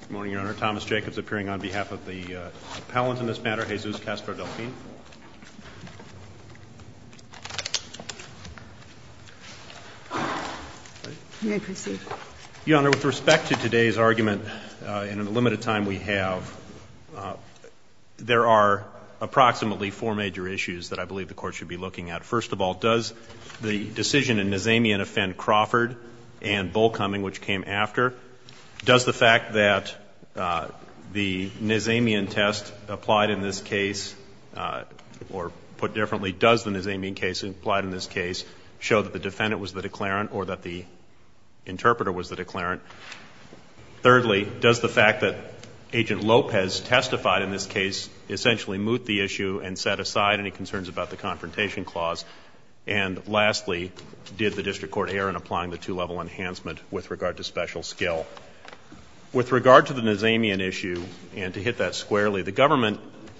Good morning, Your Honor. Thomas Jacobs appearing on behalf of the appellant in this matter, Jesus Castro-Delfin. May I proceed? Your Honor, with respect to today's argument, in the limited time we have, there are approximately four major issues that I believe the Court should be looking at. First of all, does the fact that the Nesamian test applied in this case, or put differently, does the Nesamian case applied in this case, show that the defendant was the declarant or that the interpreter was the declarant? Thirdly, does the fact that Agent Lopez testified in this case essentially moot the issue and set aside any concerns about the Confrontation Clause? And lastly, did the District Court err in applying the two-level enhancement with regard to special skill? With regard to the Nesamian issue, and to hit that squarely, the government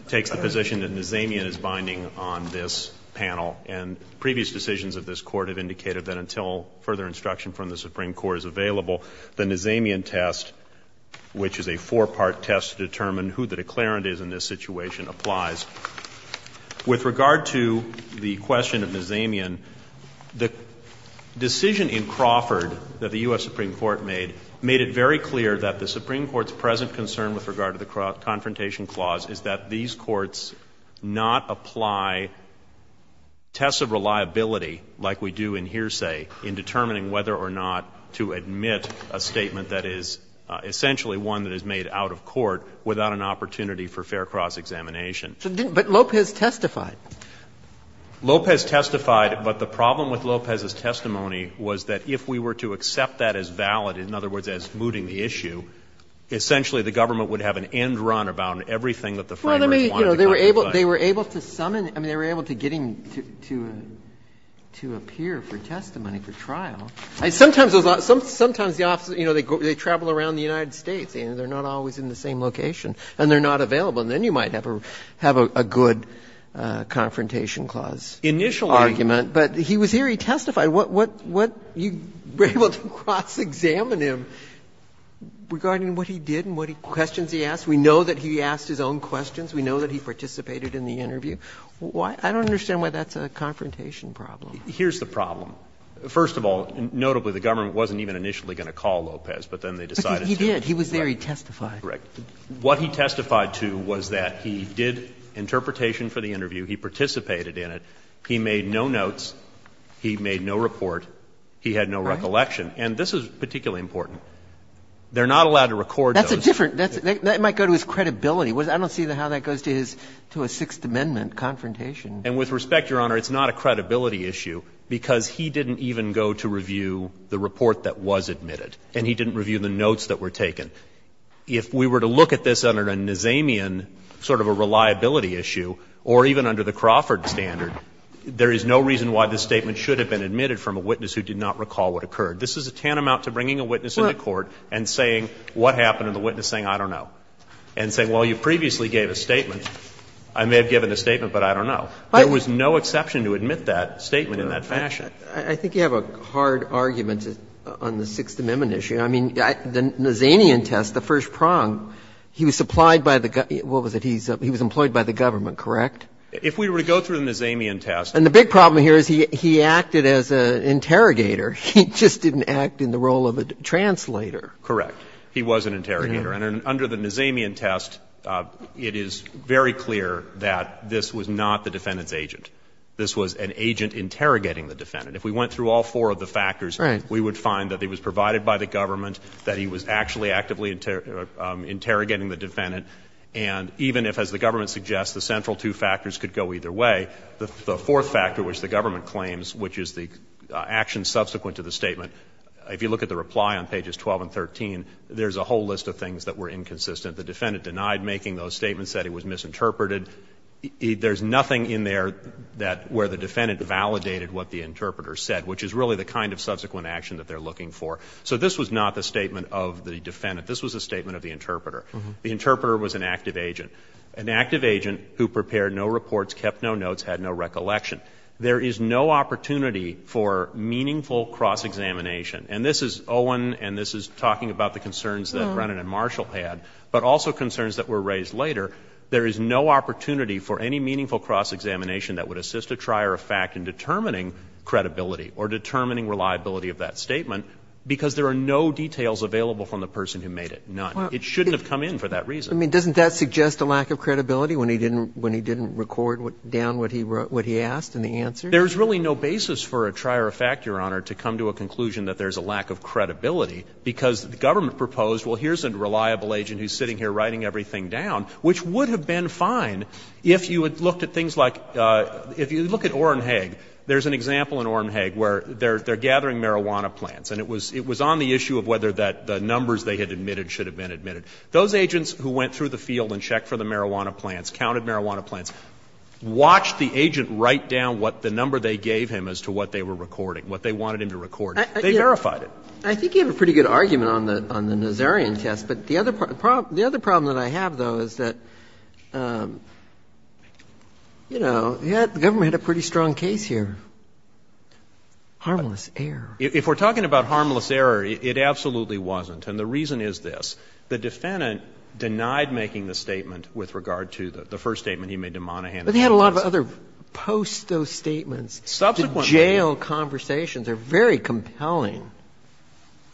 takes the position that Nesamian is binding on this panel, and previous decisions of this Court have indicated that until further instruction from the Supreme Court is available, the Nesamian test, which is a four-part test to determine who the declarant is in this situation, applies. With regard to the question of Nesamian, the decision in Crawford that the U.S. Supreme Court made, made it very clear that the Supreme Court's present concern with regard to the Confrontation Clause is that these courts not apply tests of reliability like we do in hearsay in determining whether or not to admit a statement that is essentially one that is made out of court without an opportunity for fair cross-examination. But Lopez testified. Lopez testified, but the problem with Lopez's testimony was that if we were to accept that as valid, in other words, as mooting the issue, essentially the government would have an end run about everything that the framers wanted to contemplate. Well, they were able to summon them, I mean, they were able to get him to appear for testimony, for trial. Sometimes the officers, you know, they travel around the United States, and they're not always in the same location, and they're not available, and then you might have a good Confrontation Clause argument. But he was here, he testified. What you were able to cross-examine him regarding what he did and what questions he asked. We know that he asked his own questions. We know that he participated in the interview. I don't understand why that's a confrontation problem. Here's the problem. First of all, notably, the government wasn't even initially going to call Lopez, but then they decided to. Because he did. He was there, he testified. Correct. What he testified to was that he did interpretation for the interview, he participated in it, he made no notes, he made no report, he had no recollection, and this is particularly important. They're not allowed to record those. That's a different – that might go to his credibility. I don't see how that goes to his – to a Sixth Amendment confrontation. And with respect, Your Honor, it's not a credibility issue, because he didn't even go to review the report that was admitted, and he didn't review the notes that were taken. If we were to look at this under a Nazanian sort of a reliability issue, or even under the Crawford standard, there is no reason why this statement should have been admitted from a witness who did not recall what occurred. This is a tantamount to bringing a witness into court and saying what happened and the witness saying, I don't know, and saying, well, you previously gave a statement. I may have given a statement, but I don't know. There was no exception to admit that statement in that fashion. I think you have a hard argument on the Sixth Amendment issue. I mean, the Nazanian test, the first prong, he was supplied by the – what was it? He was employed by the government, correct? If we were to go through the Nazanian test. And the big problem here is he acted as an interrogator. He just didn't act in the role of a translator. Correct. He was an interrogator. And under the Nazanian test, it is very clear that this was not the defendant's agent. This was an agent interrogating the defendant. If we went through all four of the factors, we would find that he was provided by the government, that he was actually actively interrogating the defendant. And even if, as the government suggests, the central two factors could go either way, the fourth factor, which the government claims, which is the action subsequent to the statement, if you look at the reply on pages 12 and 13, there is a whole list of things that were inconsistent. The defendant denied making those statements, said he was misinterpreted. There is nothing in there that – where the defendant validated what the interpreter said, which is really the kind of subsequent action that they are looking for. So this was not the statement of the defendant. This was the statement of the interpreter. The interpreter was an active agent. An active agent who prepared no reports, kept no notes, had no recollection. There is no opportunity for meaningful cross-examination. And this is Owen, and this is talking about the concerns that Brennan and Marshall had, but also concerns that were raised later. There is no opportunity for any meaningful cross-examination that would assist a trier of fact in determining credibility or determining reliability of that statement because there are no details available from the person who made it, none. It shouldn't have come in for that reason. Roberts. I mean, doesn't that suggest a lack of credibility when he didn't record down what he asked and the answers? There is really no basis for a trier of fact, Your Honor, to come to a conclusion that there is a lack of credibility, because the government proposed, well, here's a reliable agent who is sitting here writing everything down, which would have been fine if you had looked at things like – if you look at Orenhage, there is an example in Orenhage where they are gathering marijuana plants, and it was on the issue of whether the numbers they had admitted should have been admitted. Those agents who went through the field and checked for the marijuana plants, counted marijuana plants, watched the agent write down what the number they gave him as to what they were recording, what they wanted him to record. They verified it. I think you have a pretty good argument on the Nazarian test. But the other problem that I have, though, is that, you know, the government had a pretty strong case here. Harmless error. If we are talking about harmless error, it absolutely wasn't. And the reason is this. The defendant denied making the statement with regard to the first statement he made to Monaghan. But he had a lot of other post-those statements. Subsequent. The jail conversations are very compelling.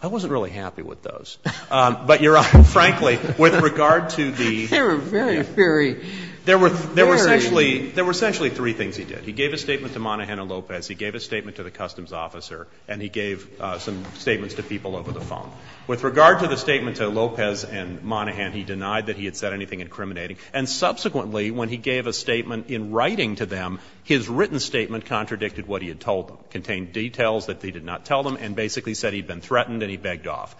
I wasn't really happy with those. But, Your Honor, frankly, with regard to the – They were very, very – There were essentially three things he did. He gave a statement to Monaghan and Lopez. He gave a statement to the customs officer. And he gave some statements to people over the phone. With regard to the statement to Lopez and Monaghan, he denied that he had said anything incriminating. And subsequently, when he gave a statement in writing to them, his written statement contradicted what he had told them, contained details that he did not tell them, and basically said he had been threatened and he begged off.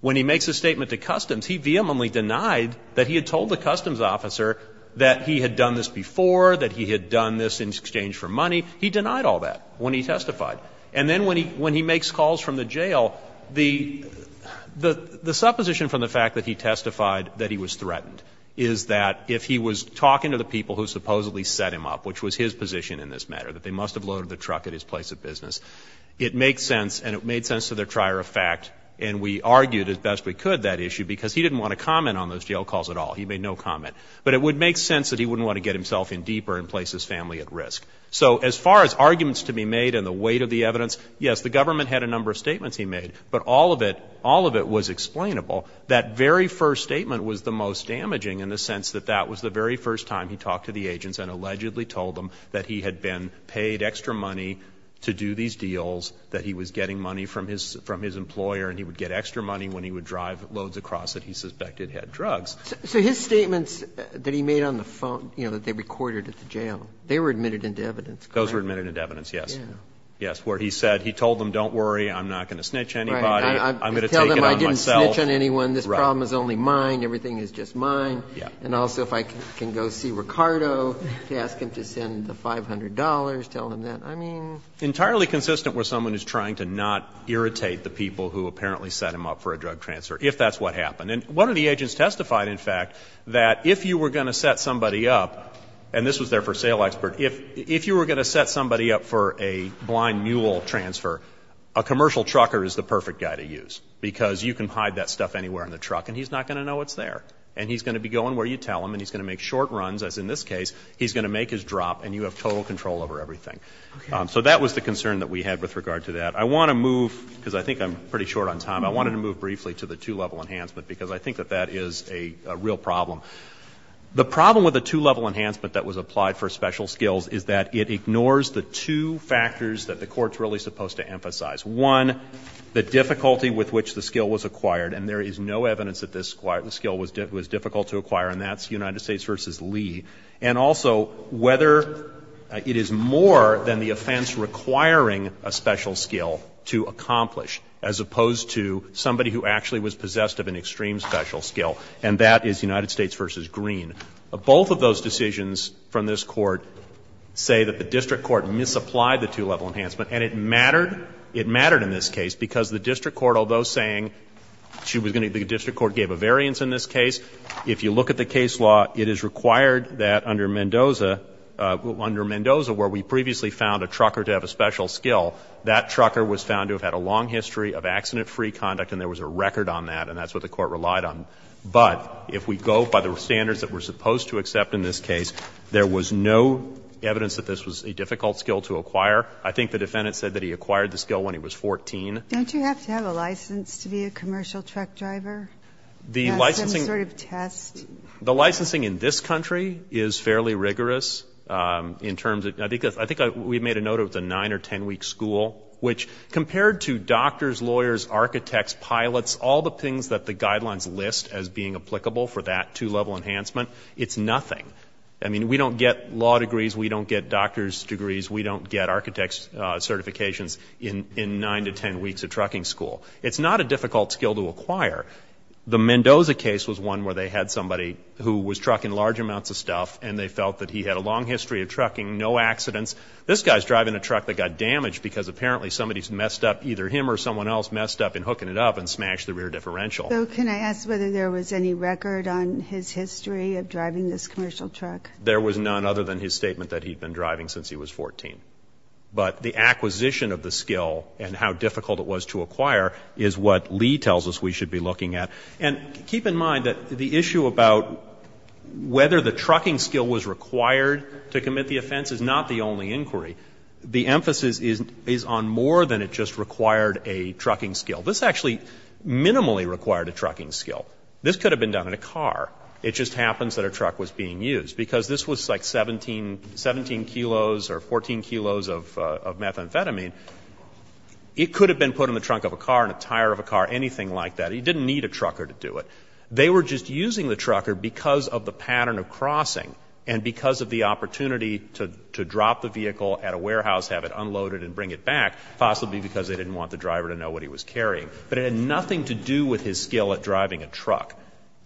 When he makes a statement to customs, he vehemently denied that he had told the customs officer that he had done this before, that he had done this in exchange for money. He denied all that when he testified. And then when he makes calls from the jail, the supposition from the fact that he testified that he was threatened is that if he was talking to the people who supposedly set him up, which was his position in this matter, that they must have loaded the truck at his place of business, it makes sense and it made sense to the trier of fact, and we argued as best we could that issue because he didn't want to comment on those jail calls at all. He made no comment. But it would make sense that he wouldn't want to get himself in deeper and place his family at risk. So as far as arguments to be made and the weight of the evidence, yes, the government had a number of statements he made, but all of it, all of it was explainable. That very first statement was the most damaging in the sense that that was the very first time he talked to the agents and allegedly told them that he had been paid extra money to do these deals, that he was getting money from his employer and he would get extra money when he would drive loads across that he suspected had drugs. So his statements that he made on the phone, you know, that they recorded at the jail, they were admitted into evidence. Those were admitted into evidence. Yes. Yes. Where he said, he told them, don't worry, I'm not going to snitch on anybody, I'm going to take it on myself. Tell them I didn't snitch on anyone. This problem is only mine. Everything is just mine. And also if I can go see Ricardo to ask him to send the $500, tell him that. I mean. Entirely consistent with someone who's trying to not irritate the people who apparently set him up for a drug transfer, if that's what happened. And one of the agents testified, in fact, that if you were going to set somebody up, and this was their for sale expert, if, if you were going to set somebody up for a blind mule transfer, a commercial trucker is the perfect guy to use because you can hide that stuff anywhere in the truck and he's not going to know it's there and he's going to be going where you tell him and he's going to make short runs as in this case, he's going to make his drop and you have total control over everything. So that was the concern that we had with regard to that. I want to move because I think I'm pretty short on time. I want to move briefly to the two-level enhancement because I think that that is a real problem. The problem with the two-level enhancement that was applied for special skills is that it ignores the two factors that the Court's really supposed to emphasize. One, the difficulty with which the skill was acquired, and there is no evidence that this skill was difficult to acquire, and that's United States v. Lee. And also whether it is more than the offense requiring a special skill to accomplish as opposed to somebody who actually was possessed of an extreme special skill, and that is United States v. Green. Both of those decisions from this Court say that the district court misapplied the two-level enhancement and it mattered. It mattered in this case because the district court, although saying the district court gave a variance in this case, if you look at the case law, it is required that under Mendoza, where we previously found a trucker to have a special skill, that trucker was found to have had a long history of accident-free conduct and there was a record on that, and that's what the Court relied on. But if we go by the standards that we're supposed to accept in this case, there was no evidence that this was a difficult skill to acquire. I think the defendant said that he acquired the skill when he was 14. Ginsburg. Don't you have to have a license to be a commercial truck driver? The licensing. Some sort of test. The licensing in this country is fairly rigorous in terms of the other. I think we made a note it was a nine or ten-week school, which compared to doctors, lawyers, architects, pilots, all the things that the guidelines list as being applicable for that two-level enhancement, it's nothing. I mean, we don't get law degrees. We don't get doctor's degrees. We don't get architect's certifications in nine to ten weeks of trucking school. It's not a difficult skill to acquire. The Mendoza case was one where they had somebody who was trucking large amounts of stuff, and they felt that he had a long history of trucking, no accidents. This guy's driving a truck that got damaged because apparently somebody's messed up, either him or someone else messed up in hooking it up and smashed the rear differential. So can I ask whether there was any record on his history of driving this commercial truck? There was none other than his statement that he'd been driving since he was 14. But the acquisition of the skill and how difficult it was to acquire is what Lee tells us we should be looking at. And keep in mind that the issue about whether the trucking skill was required to commit the offense is not the only inquiry. The emphasis is on more than it just required a trucking skill. This actually minimally required a trucking skill. This could have been done in a car. It just happens that a truck was being used. Because this was like 17 kilos or 14 kilos of methamphetamine, it could have been put in the trunk of a car, in a tire of a car, anything like that. He didn't need a trucker to do it. They were just using the trucker because of the pattern of crossing and because of the opportunity to drop the vehicle at a warehouse, have it unloaded and bring it back, possibly because they didn't want the driver to know what he was carrying. But it had nothing to do with his skill at driving a truck.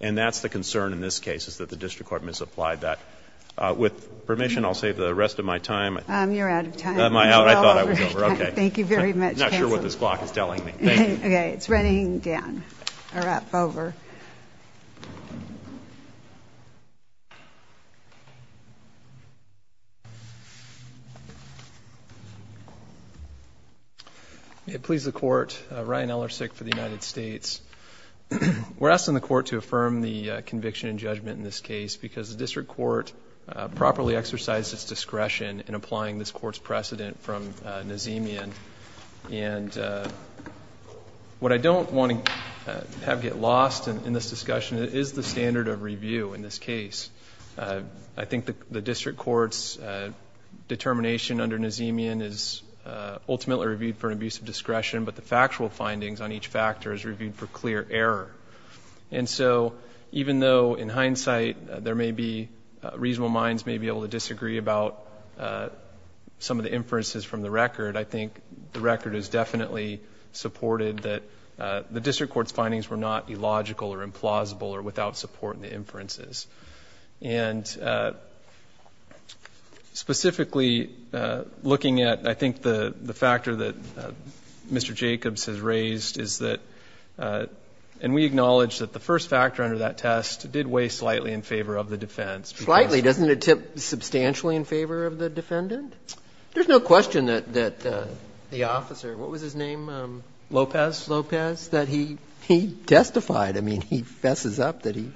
And that's the concern in this case, is that the district court misapplied that. With permission, I'll save the rest of my time. You're out of time. Am I out? I thought I was over. Thank you very much. I'm not sure what this clock is telling me. Thank you. Okay. It's running down. All right. Over. Please, the court. Ryan Ellersick for the United States. We're asking the court to affirm the conviction and judgment in this case because the district court properly exercised its discretion in applying this court's precedent from Nazemian. And what I don't want to have get lost in this discussion is the standard of review in this case. I think the district court's determination under Nazemian is ultimately reviewed for an abuse of discretion, but the factual findings on each factor is reviewed for clear error. And so, even though in hindsight, there may be, reasonable minds may be able to the record is definitely supported that the district court's findings were not illogical or implausible or without support in the inferences. And specifically, looking at, I think the factor that Mr. Jacobs has raised is that, and we acknowledge that the first factor under that test did weigh slightly in favor of the defense. Slightly? Doesn't it tip substantially in favor of the defendant? There's no question that the officer, what was his name? Lopez. Lopez, that he testified. I mean, he fesses up that he.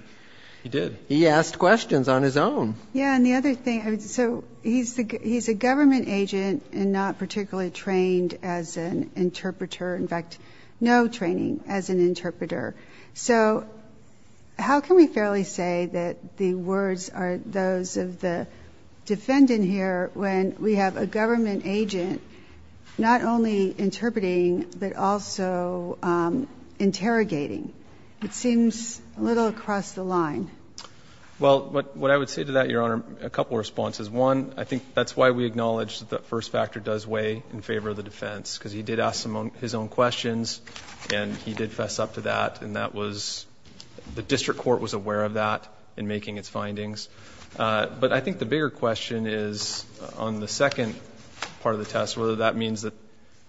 He did. He asked questions on his own. Yeah, and the other thing, so he's a government agent and not particularly trained as an interpreter. In fact, no training as an interpreter. So, how can we fairly say that the words are those of the defendant here when we have a government agent not only interpreting but also interrogating? It seems a little across the line. Well, what I would say to that, Your Honor, a couple of responses. One, I think that's why we acknowledge that the first factor does weigh in favor of the defense, because he did ask some of his own questions. And he did fess up to that. And that was, the district court was aware of that in making its findings. But I think the bigger question is on the second part of the test, whether that means that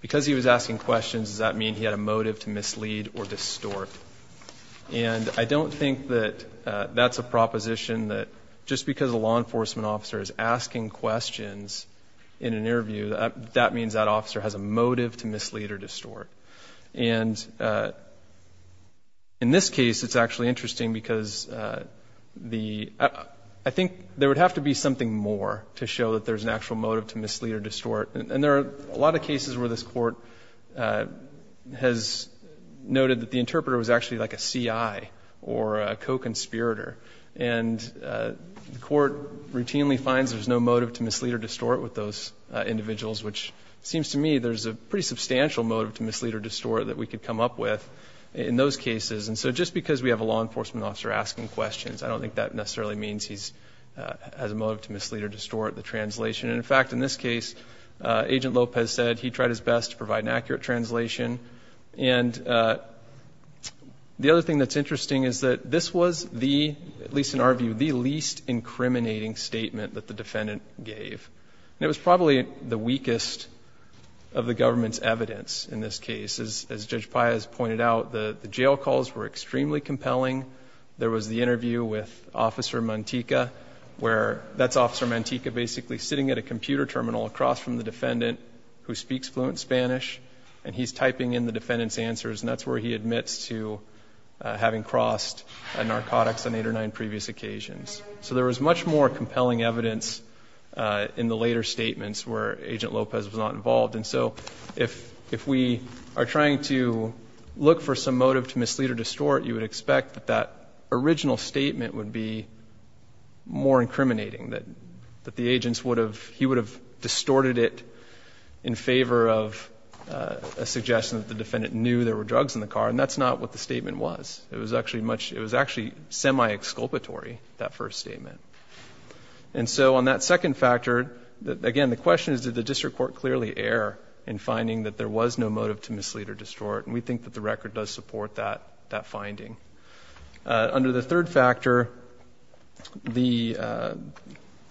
because he was asking questions, does that mean he had a motive to mislead or distort? And I don't think that that's a proposition that just because a law enforcement officer is asking questions in an interview, that means that officer has a motive to mislead or distort. And in this case, it's actually interesting because the, I think there would have to be something more to show that there's an actual motive to mislead or distort. And there are a lot of cases where this court has noted that the interpreter was actually like a CI or a co-conspirator. And the court routinely finds there's no motive to mislead or distort with those individuals, which seems to me there's a pretty substantial motive to mislead or distort that we could come up with in those cases. And so just because we have a law enforcement officer asking questions, I don't think that necessarily means he has a motive to mislead or distort the translation. And in fact, in this case, Agent Lopez said he tried his best to provide an accurate translation. And the other thing that's interesting is that this was the, at least in our view, the least incriminating statement that the defendant gave. It was probably the weakest of the government's evidence in this case. As Judge Piaz pointed out, the jail calls were extremely compelling. There was the interview with Officer Mantica, where that's Officer Mantica basically sitting at a computer terminal across from the defendant who speaks fluent Spanish. And he's typing in the defendant's answers, and that's where he admits to having crossed a narcotics on eight or nine previous occasions. So there was much more compelling evidence in the later statements where Agent Lopez was not involved. And so if we are trying to look for some motive to mislead or distort, that original statement would be more incriminating. That the agents would have, he would have distorted it in favor of a suggestion that the defendant knew there were drugs in the car, and that's not what the statement was, it was actually semi-exculpatory, that first statement. And so on that second factor, again, the question is, did the district court clearly err in finding that there was no motive to mislead or distort, and we think that the record does support that finding. Under the third factor,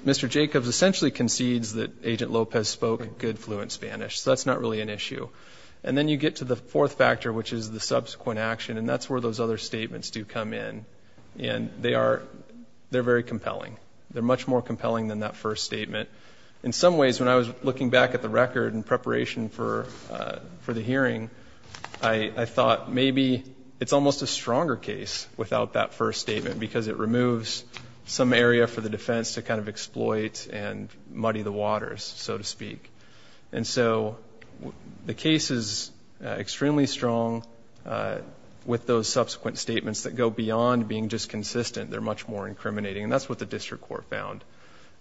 Mr. Jacobs essentially concedes that Agent Lopez spoke good, fluent Spanish, so that's not really an issue. And then you get to the fourth factor, which is the subsequent action, and that's where those other statements do come in, and they're very compelling. They're much more compelling than that first statement. In some ways, when I was looking back at the record in preparation for the hearing, I thought maybe it's almost a stronger case without that first statement, because it removes some area for the defense to kind of exploit and muddy the waters, so to speak. And so the case is extremely strong with those subsequent statements that go beyond being just consistent, they're much more incriminating, and that's what the district court found.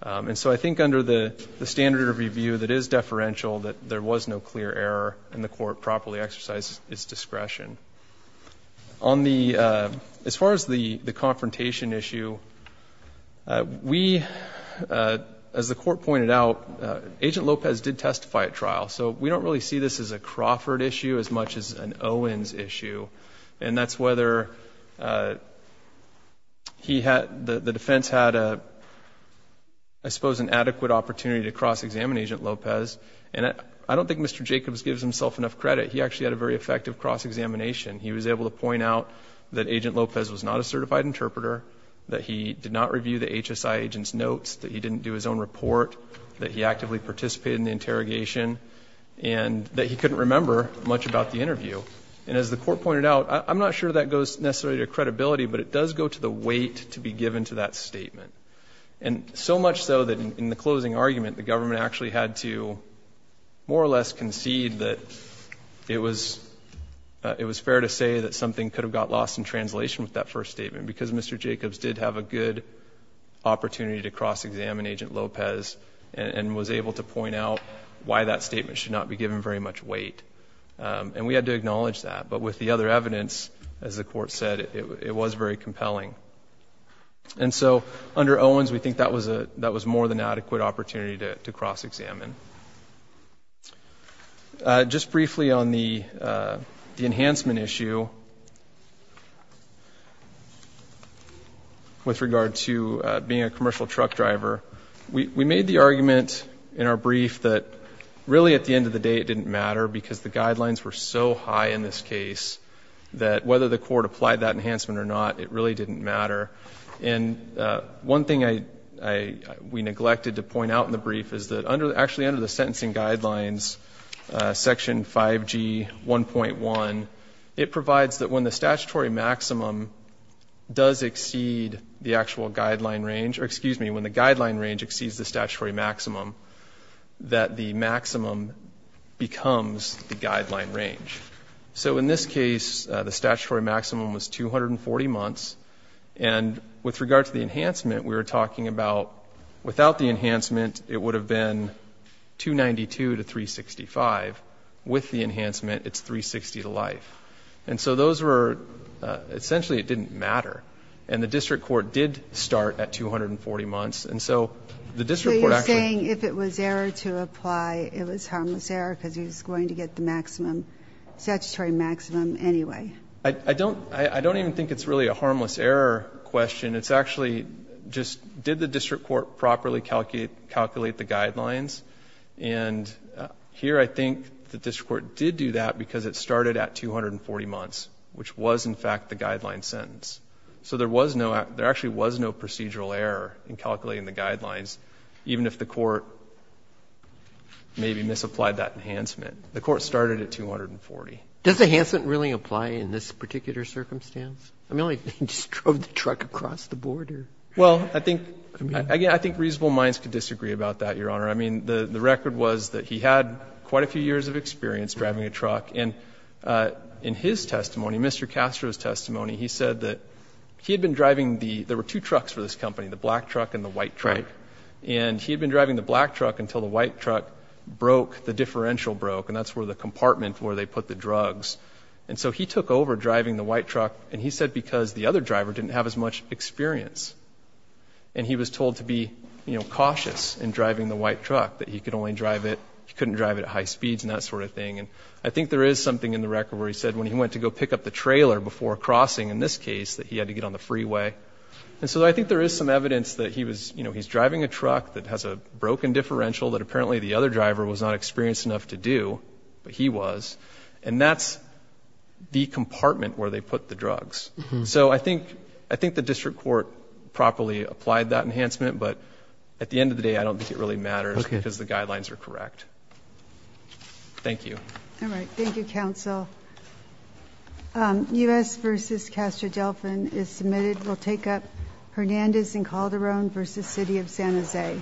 And so I think under the standard of review that is deferential, that there was no clear error, and the court properly exercised its discretion. As far as the confrontation issue, we, as the court pointed out, Agent Lopez did testify at trial. So we don't really see this as a Crawford issue as much as an Owens issue. And that's whether the defense had, I suppose, an adequate opportunity to cross-examine Agent Lopez. And I don't think Mr. Jacobs gives himself enough credit. He actually had a very effective cross-examination. He was able to point out that Agent Lopez was not a certified interpreter, that he did not review the HSI agent's notes, that he didn't do his own report, that he actively participated in the interrogation, and that he couldn't remember much about the interview. And as the court pointed out, I'm not sure that goes necessarily to credibility, but it does go to the weight to be given to that statement. And so much so that in the closing argument, the government actually had to more or less concede that it was fair to say that something could have got lost in translation with that first statement. Because Mr. Jacobs did have a good opportunity to cross-examine Agent Lopez, and was able to point out why that statement should not be given very much weight. And we had to acknowledge that, but with the other evidence, as the court said, it was very compelling. And so, under Owens, we think that was more than adequate opportunity to cross-examine. Just briefly on the enhancement issue, with regard to being a commercial truck driver, we made the argument in our brief that really at the end of the day it didn't matter because the guidelines were so high in this case that whether the court applied that enhancement or not, it really didn't matter. And one thing we neglected to point out in the brief is that actually under the sentencing guidelines, section 5G 1.1, it provides that when the statutory maximum does exceed the actual guideline range, or excuse me, when the guideline range exceeds the statutory maximum, that the maximum becomes the guideline range. So in this case, the statutory maximum was 240 months. And with regard to the enhancement, we were talking about without the enhancement, it would have been 292 to 365. With the enhancement, it's 360 to life. And so those were, essentially it didn't matter. And the district court did start at 240 months, and so the district court actually- So it's harmless error because he's going to get the maximum, statutory maximum anyway. I don't even think it's really a harmless error question. It's actually just, did the district court properly calculate the guidelines? And here I think the district court did do that because it started at 240 months, which was in fact the guideline sentence. So there actually was no procedural error in calculating the guidelines, even if the court maybe misapplied that enhancement. The court started at 240. Does the enhancement really apply in this particular circumstance? I mean, only if they just drove the truck across the border. Well, I think reasonable minds could disagree about that, Your Honor. I mean, the record was that he had quite a few years of experience driving a truck. And in his testimony, Mr. Castro's testimony, he said that he had been driving the — there were two trucks for this company, the black truck and the white truck. And he had been driving the black truck until the white truck broke, the differential broke, and that's where the compartment where they put the drugs. And so he took over driving the white truck, and he said because the other driver didn't have as much experience. And he was told to be cautious in driving the white truck, that he could only drive it — he couldn't drive it at high speeds and that sort of thing. And I think there is something in the record where he said when he went to go pick up the trailer before crossing, in this case, that he had to get on the freeway. And so I think there is some evidence that he was — you know, he's driving a truck that has a broken differential that apparently the other driver was not experienced enough to do, but he was. And that's the compartment where they put the drugs. So I think — I think the district court properly applied that enhancement, but at the end of the day, I don't think it really matters because the guidelines are correct. Thank you. All right. Thank you, counsel. U.S. v. Castro-Delphin is submitted. We'll take up Hernandez and Calderon v. City of San Jose.